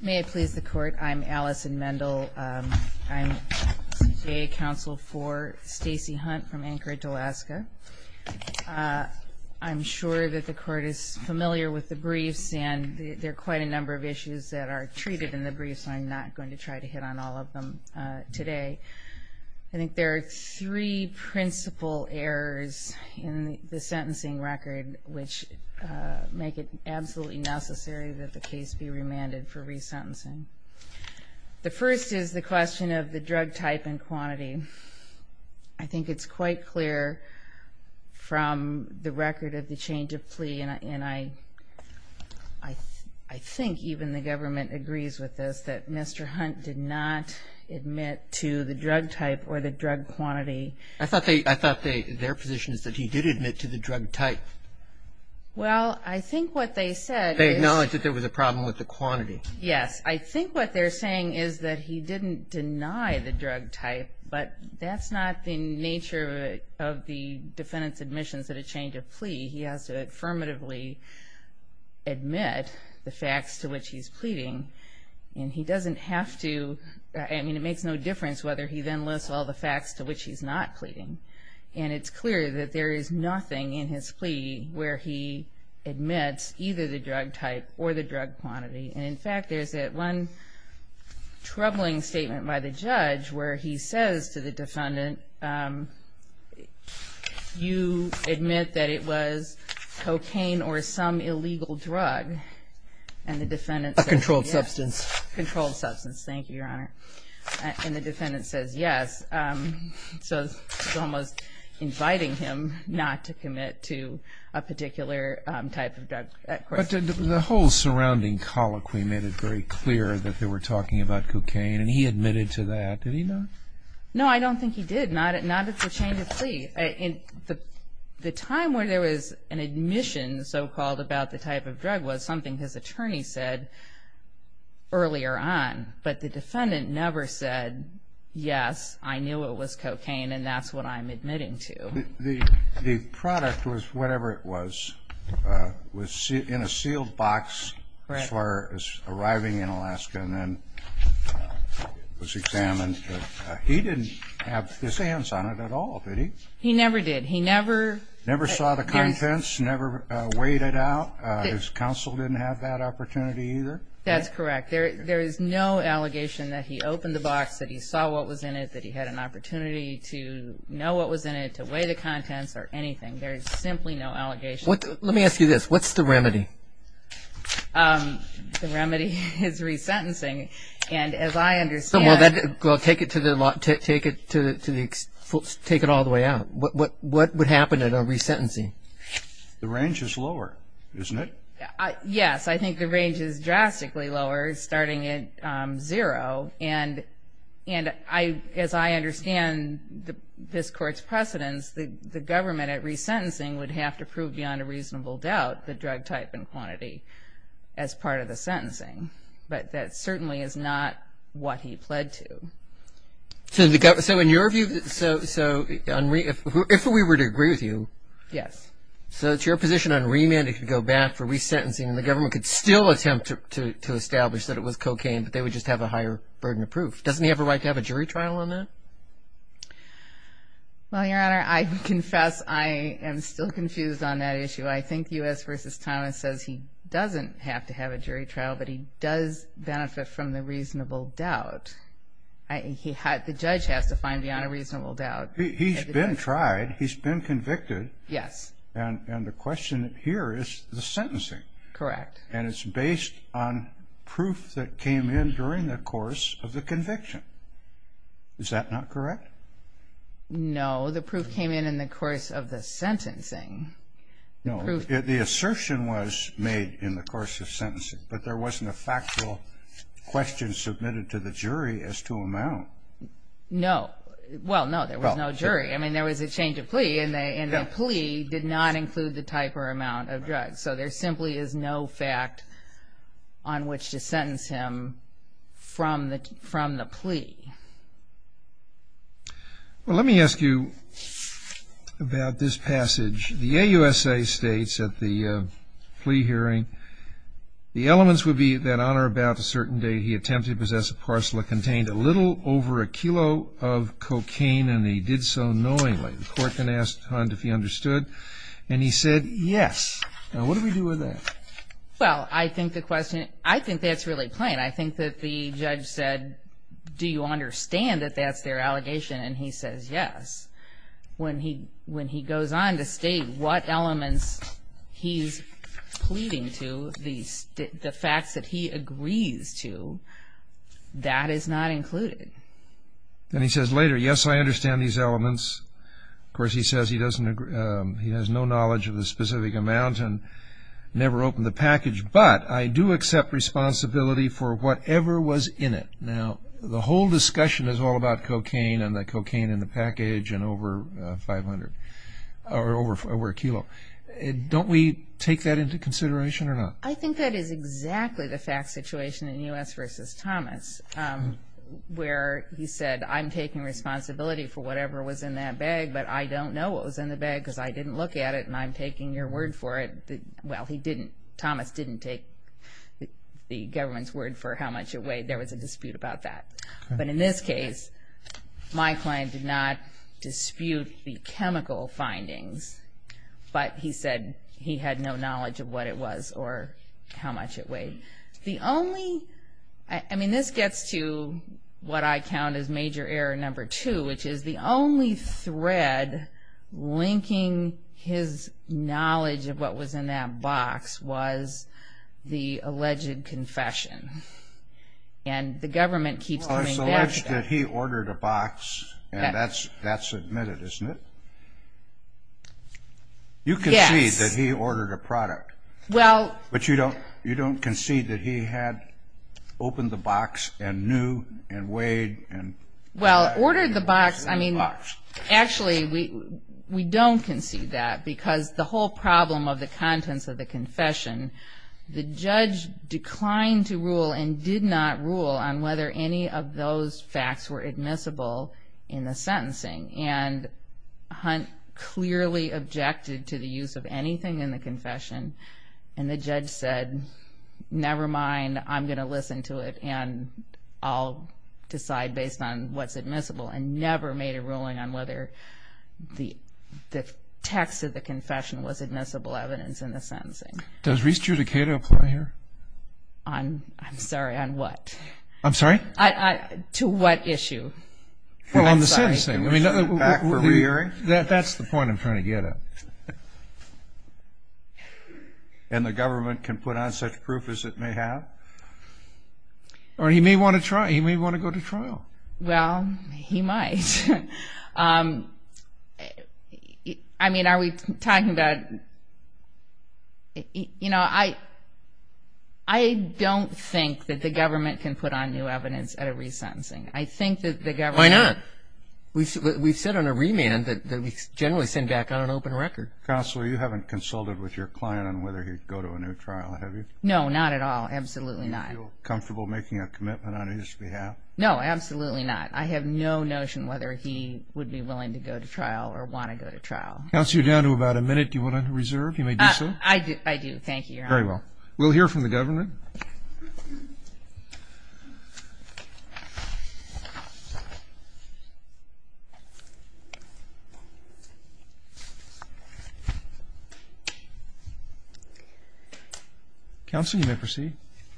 May I please the court I'm Allison Mendel I'm a counsel for Stacy Hunt from Anchorage, Alaska. I'm sure that the court is familiar with the briefs and there are quite a number of issues that are treated in the briefs I'm not going to try to hit on all of them today. I think there are three principal errors in the resentencing. The first is the question of the drug type and quantity. I think it's quite clear from the record of the change of plea and I I I think even the government agrees with this that Mr. Hunt did not admit to the drug type or the drug quantity. I thought they I thought they their position is that he did admit to the drug type. Well I think what they said. They acknowledged that there was a quantity. Yes I think what they're saying is that he didn't deny the drug type but that's not the nature of the defendant's admissions at a change of plea. He has to affirmatively admit the facts to which he's pleading and he doesn't have to I mean it makes no difference whether he then lists all the facts to which he's not pleading and it's clear that there is nothing in his plea where he admits either the drug type or the drug quantity and in fact there's that one troubling statement by the judge where he says to the defendant you admit that it was cocaine or some illegal drug and the defendant's a controlled substance controlled substance thank you your honor and the defendant says yes so almost inviting him not to commit to a particular type of drug the whole surrounding colloquy made it very clear that they were talking about cocaine and he admitted to that did he know no I don't think he did not it not at the change of plea in the the time where there was an admission so called about the type of drug was something his attorney said earlier on but the yes I knew it was cocaine and that's what I'm admitting to the product was whatever it was was in a sealed box for arriving in Alaska and then was examined he didn't have his hands on it at all he never did he never never saw the contents never waited out his counsel didn't have that opportunity either that's correct there there is no allegation that he opened the box that he saw what was in it that he had an opportunity to know what was in it to weigh the contents or anything there's simply no allegation what let me ask you this what's the remedy the remedy is resentencing and as I understand well that take it to the lot take it to the folks take it all the way out what what what would happen at a resentencing the range is lower isn't it yes I think the lower starting at zero and and I as I understand the this court's precedents the government at resentencing would have to prove beyond a reasonable doubt the drug type and quantity as part of the sentencing but that certainly is not what he pled to to the government so in your view so so if we were to agree with you yes so it's your position on remand it could go back for resentencing the to establish that it was cocaine but they would just have a higher burden of proof doesn't he have a right to have a jury trial on that well your honor I confess I am still confused on that issue I think us versus Thomas says he doesn't have to have a jury trial but he does benefit from the reasonable doubt I think he had the judge has to find beyond a reasonable doubt he's been tried he's been convicted yes and and the question here is the sentencing correct and it's based on proof that came in during the course of the conviction is that not correct no the proof came in in the course of the sentencing no the assertion was made in the course of sentencing but there wasn't a factual question submitted to the jury as to amount no well no there was no jury I mean there was a change of plea and they and the plea did not include the type or amount of drugs so there simply is no fact on which to sentence him from the from the plea well let me ask you about this passage the AUSA states at the plea hearing the elements would be that on or about a certain day he attempted possess a parcel it contained a little over a kilo of cocaine and he did so knowingly the court can ask if he understood and he said yes well I think the question I think that's really plain I think that the judge said do you understand that that's their allegation and he says yes when he when he goes on to state what elements he's pleading to these the that he agrees to that is not included then he says later yes I understand these elements of course he says he doesn't agree he has no knowledge of the specific amount and never opened the package but I do accept responsibility for whatever was in it now the whole discussion is all about cocaine and the cocaine in the package and over 500 or over four were kilo don't we take that into consideration or not I think that is exactly the fact situation in us versus Thomas where he said I'm taking responsibility for whatever was in that bag but I don't know what was in the bag because I didn't look at it and I'm taking your word for it well he didn't Thomas didn't take the government's word for how much it weighed there was a dispute about that but in this case my client did not dispute the chemical findings but he said he had no knowledge of what it was or how much it weighed the only I mean this gets to what I count as major error number two which is the only thread linking his knowledge of what was in that box was the alleged confession and the government keeps that he ordered a box and that's that's admitted isn't it you can see that he ordered a product well but you don't you don't concede that he had opened the box and knew and weighed and well ordered the box I mean actually we we don't concede that because the whole problem of the contents of the confession the judge declined to rule and did not rule on whether any of those facts were admissible in the sentencing and Hunt clearly objected to the use of anything in the confession and the judge said never mind I'm gonna listen to it and I'll decide based on what's admissible and never made a ruling on whether the text of the confession was admissible evidence in the sentencing does restudicator apply here I'm sorry I'm what I'm sorry I to what issue that's the point I'm trying to get it and the government can put on such proof as it may have or he may want to try he may want to go to trial well he might I mean are we talking about you know I I don't think that the government can put on new evidence at a resentencing I think that the government why not we said we've said on a remand that we generally send back on an open record counselor you haven't consulted with your client on whether he'd go to a new trial have you no not at all absolutely not comfortable making a commitment on his behalf no absolutely not I have no notion whether he would be willing to go to trial or want to go to trial that's you down to about a minute you want to reserve you may do so I do I do thank you very well we'll hear from the government counseling may proceed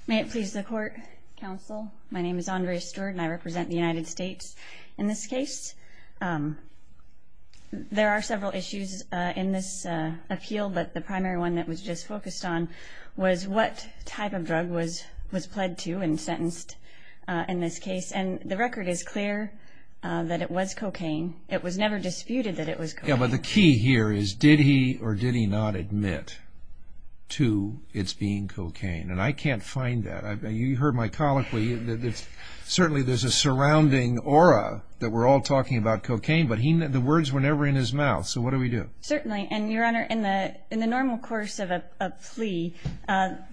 may it please the court counsel my name is Andre Stewart and I represent the United States in this case there are several issues in this appeal but the primary one that was just focused on was what type of drug was was pled to and sentenced in this case and the record is clear that it was cocaine it was never disputed that it was yeah but the key here is did he or did he not admit to it's being cocaine and I can't find that I've been you heard my colloquy that it's certainly there's a surrounding aura that we're all talking about cocaine but he knew the words were never in his mouth so what do we do certainly and your honor in the in the normal course of a plea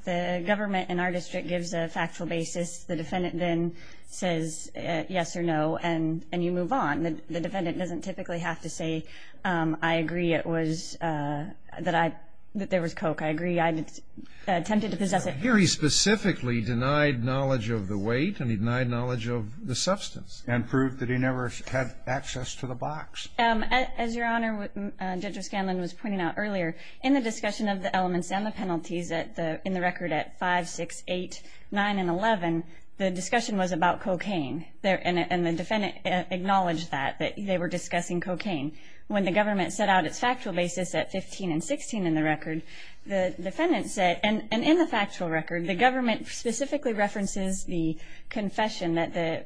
the government in our district gives a factual basis the defendant then says yes or no and and you move on the defendant doesn't typically have to say I agree it was that I that there was coke I agree I attempted to possess it very specifically denied knowledge of the weight and he denied knowledge of the substance and proved that he never had access to the box and as your honor Judge O'Scanlan was pointing out earlier in the discussion of the elements and the penalties that the in the record at five six eight nine and eleven the discussion was about cocaine there and the defendant acknowledged that that they were discussing cocaine when the government set out its factual basis at 15 and 16 in the record the defendant said and and in the factual record the government specifically references the confession that the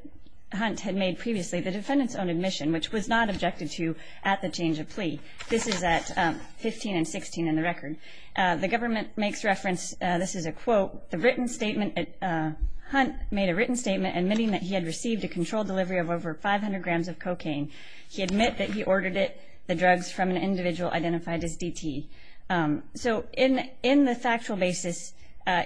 hunt had made previously the defendants own admission which was not objected to at the change of plea this is at 15 and 16 in the record the government makes reference this is a quote the written statement at hunt made a written statement admitting that he had received a controlled delivery of over 500 grams of cocaine he admitted he ordered it the drugs from an individual identified as DT so in in the factual basis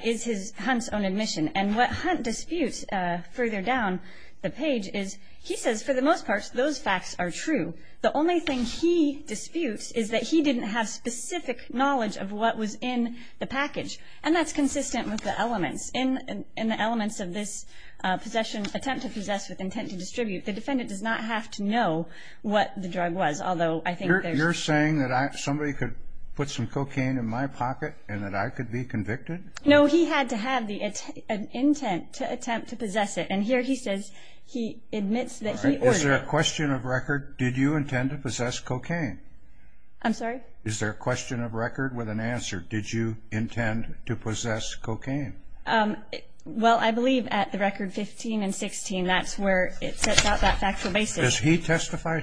is his hunt's own admission and what hunt disputes further down the page is he says for the most part those facts are true the only thing he disputes is that he didn't have specific knowledge of what was in the package and that's consistent with the elements in and in the elements of this possession attempt to possess with intent to distribute the defendant does have to know what the drug was although I think you're saying that I somebody could put some cocaine in my pocket and that I could be convicted no he had to have the intent to attempt to possess it and here he says he admits that there question of record did you intend to possess cocaine I'm sorry is there a question of record with an answer did you intend to possess cocaine well I testified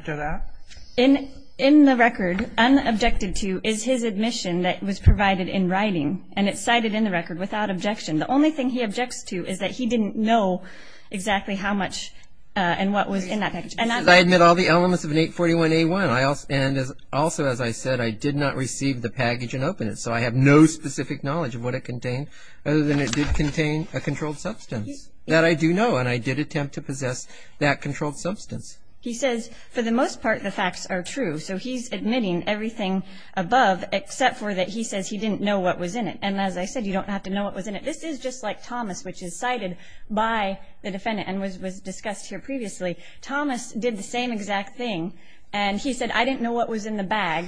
to that in in the record and objected to is his admission that was provided in writing and it's cited in the record without objection the only thing he objects to is that he didn't know exactly how much and what was in that package and I admit all the elements of an 841 a1 I also and as also as I said I did not receive the package and open it so I have no specific knowledge of what it contained other than it did contain a controlled substance that I do know and I did attempt to possess that controlled substance he says for the most part the facts are true so he's admitting everything above except for that he says he didn't know what was in it and as I said you don't have to know what was in it this is just like Thomas which is cited by the defendant and was was discussed here previously Thomas did the same exact thing and he said I didn't know what was in the bag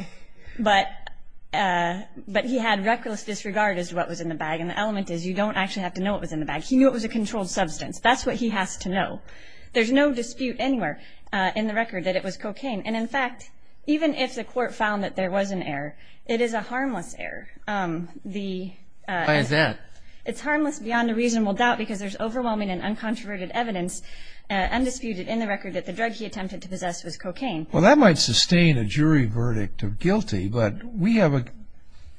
but but he had reckless disregard as what was in the bag and the element is you don't actually have to know what was in the bag he knew it was a controlled substance that's what he has to know there's no dispute anywhere in the record that it was cocaine and in fact even if the court found that there was an error it is a harmless error the is that it's harmless beyond a reasonable doubt because there's overwhelming and uncontroverted evidence and disputed in the record that the drug he attempted to possess was cocaine well that might sustain a jury verdict of guilty but we have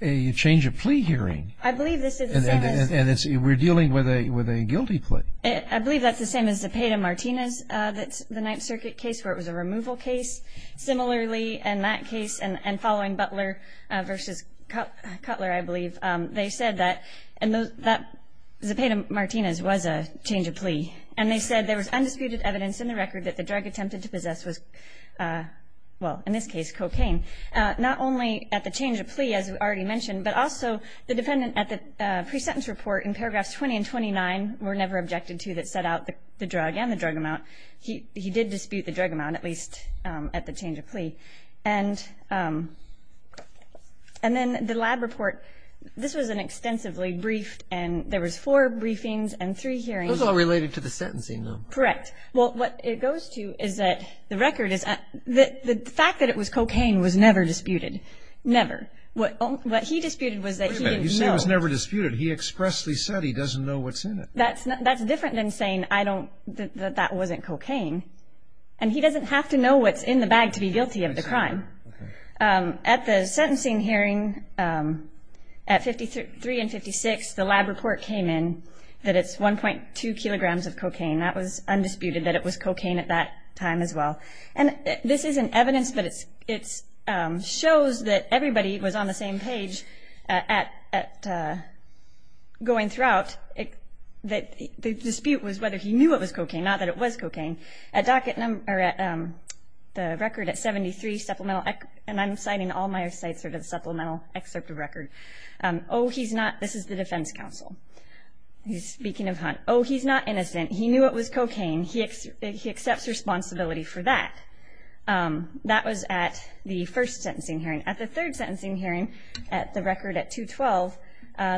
a change of plea hearing I believe we're dealing with a with a guilty plea I believe that's the same as the Peta Martinez that's the Ninth Circuit case where it was a removal case similarly in that case and following Butler versus Cutler I believe they said that and that the Peta Martinez was a change of plea and they said there was undisputed evidence in the record that the drug attempted to possess was well in this case cocaine not only at the change of plea as we already mentioned but also the defendant at the pre-sentence report in paragraphs 20 and 29 were never objected to that set out the drug and the drug amount he did dispute the drug amount at least at the change of plea and and then the lab report this was an extensively briefed and there was four briefings and three hearings all related to the sentencing them correct well what it goes to is that the record is that the fact that it was cocaine was never disputed never what what he disputed was that he was never disputed he expressly said he doesn't know what's in it that's not that's different than saying I don't that that wasn't cocaine and he doesn't have to know what's in the bag to be guilty of the crime at the sentencing hearing at 53 and 56 the lab report came in that it's 1.2 kilograms of cocaine that was undisputed that it was cocaine at that time as well and this is an evidence that it's it's shows that everybody was on the same page at going throughout it that the dispute was whether he knew it was cocaine not that it was cocaine a docket number at the record at 73 supplemental and I'm citing all my sites are to the supplemental excerpt of record oh he's not this is the defense counsel he's speaking of hunt oh he's not innocent he was cocaine he accepts responsibility for that that was at the first sentencing hearing at the third sentencing hearing at the record at 212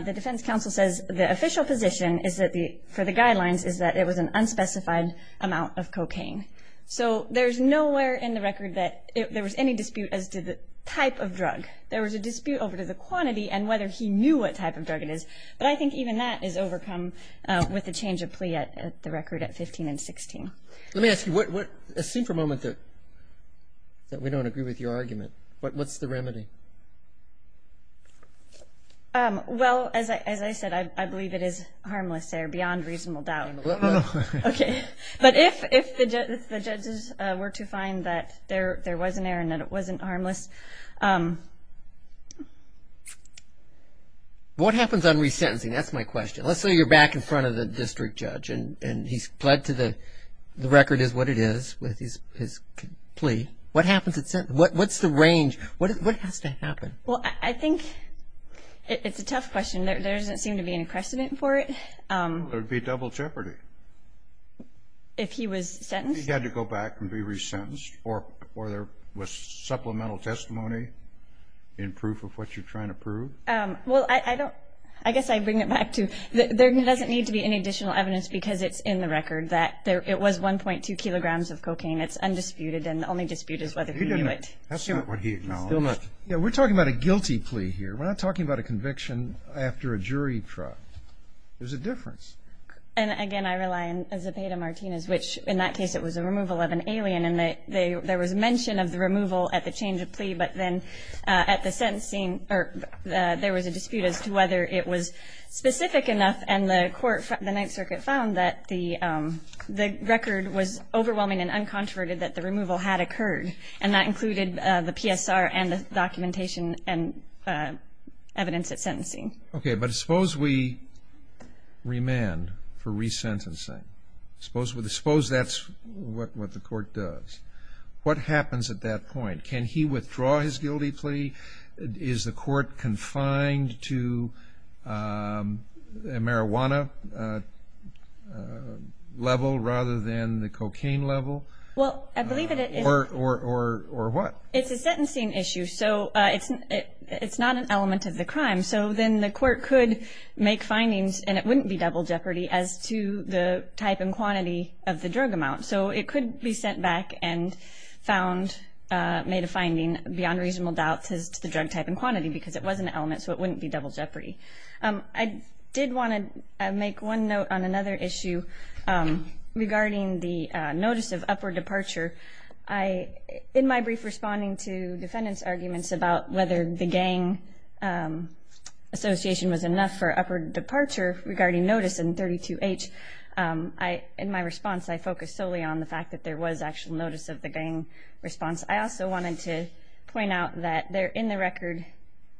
the defense counsel says the official position is that the for the guidelines is that it was an unspecified amount of cocaine so there's nowhere in the record that if there was any dispute as to the type of drug there was a dispute over to the quantity and whether he knew what type of drug it is but I think even that is overcome with the change of plea at the record at 15 and 16 let me ask you what what a super moment that that we don't agree with your argument but what's the remedy well as I said I believe it is harmless air beyond reasonable doubt okay but if the judges were to find that there there was an air and that it wasn't harmless what happens on resentencing that's my question let's say you're back in front of the district judge and and he's pled to the the record is what it is with his plea what happens it said what's the range what has to happen well I think it's a tough question there doesn't seem to be an precedent for it there'd be double jeopardy if he was sentenced had to go back and be resentenced or or there was supplemental testimony in proof of what you're trying to prove well I don't I guess I bring it back to there doesn't need to be any additional evidence because it's in the record that there it was 1.2 kilograms of cocaine it's undisputed and the only dispute is whether you do it that's not what he acknowledged yeah we're talking about a guilty plea here we're not talking about a conviction after a jury trial there's a difference and again I rely on as a beta Martinez which in that case it was a removal of an alien and that they there was mention of the removal at the change of plea but then at the sentencing or there was a dispute as to whether it was specific enough and the court the Ninth Circuit found that the the record was overwhelming and uncontroverted that the removal had occurred and that included the PSR and the documentation and evidence at sentencing okay but suppose we remand for resentencing suppose with the suppose that's what what the court does what happens at that is the court confined to marijuana level rather than the cocaine level well I believe it or or or what it's a sentencing issue so it's it's not an element of the crime so then the court could make findings and it wouldn't be double jeopardy as to the type and quantity of the drug amount so it could be sent back and found made a finding beyond reasonable doubt says to the drug type and quantity because it was an element so it wouldn't be double jeopardy I did want to make one note on another issue regarding the notice of upward departure I in my brief responding to defendants arguments about whether the gang Association was enough for upward departure regarding notice in 32h I in my response I focus solely on the fact that there was actual notice of the gang response I also wanted to point out that they're in the record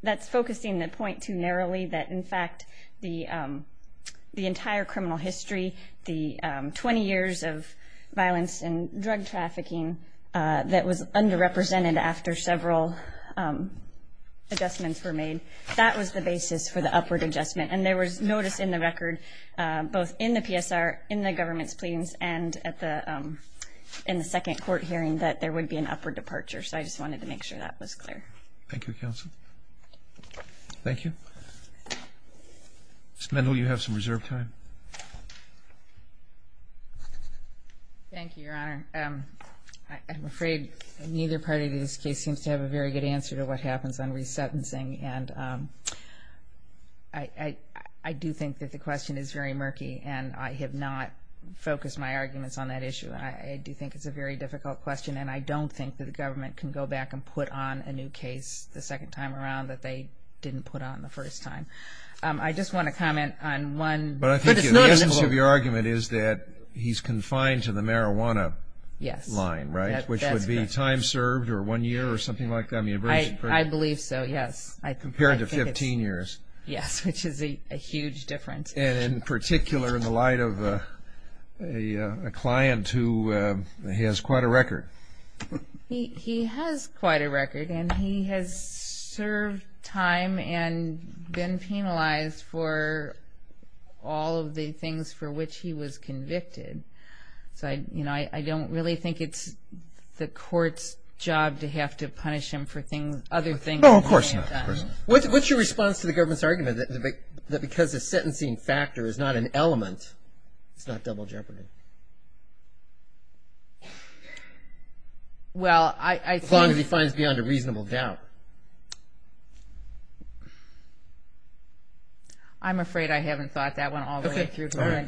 that's focusing the point too narrowly that in fact the the entire criminal history the 20 years of violence and drug trafficking that was under represented after several adjustments were made that was the basis for the upward adjustment and there was notice in the record both in the PSR in the government's pleas and at the in the second court hearing that there would be an upward departure so I just wanted to make sure that was clear Thank You counsel thank you spindle you have some reserve time thank you your honor I'm afraid neither party to this case seems to have a very good answer to what happens on resentencing and I I do think that the question is very murky and I have not focused my arguments on that issue I do think it's a very difficult question and I don't think that the government can go back and put on a new case the second time around that they didn't put on the first time I just want to comment on one but I think your argument is that he's confined to the marijuana yes line right which would be time served or one year or something like that I mean I believe so yes I compared to 15 years yes which is a huge difference and in particular in the light of a client who has quite a record he has quite a record and he has served time and been penalized for all of the things for which he was convicted so I you know I don't really think it's the court's job to have to punish him for things other things oh of course what's your response to the government's argument that because the sentencing factor is not an element it's not double jeopardy well I thought he finds beyond a reasonable doubt I'm afraid I haven't thought that one all right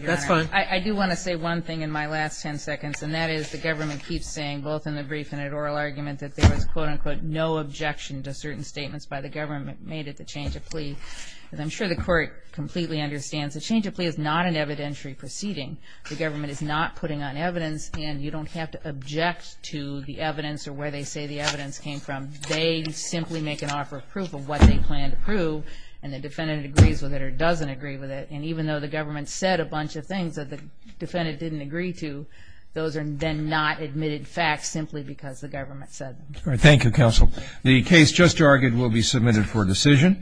that's fine I do want to say one thing in my last 10 seconds and that is the government keeps saying both in the brief and at oral argument that there was quote-unquote no objection to certain statements by the government made it the change of plea and I'm sure the court completely understands the change of plea is not an evidentiary proceeding the government is not putting on evidence and you don't have to object to the evidence or where they say the evidence came from they simply make an offer of proof of what they plan to prove and the defendant agrees with it or doesn't agree with it and even though the government said a bunch of things that the defendant didn't agree to those are then not admitted facts simply because the government said all right Thank You counsel the case just argued will be submitted for decision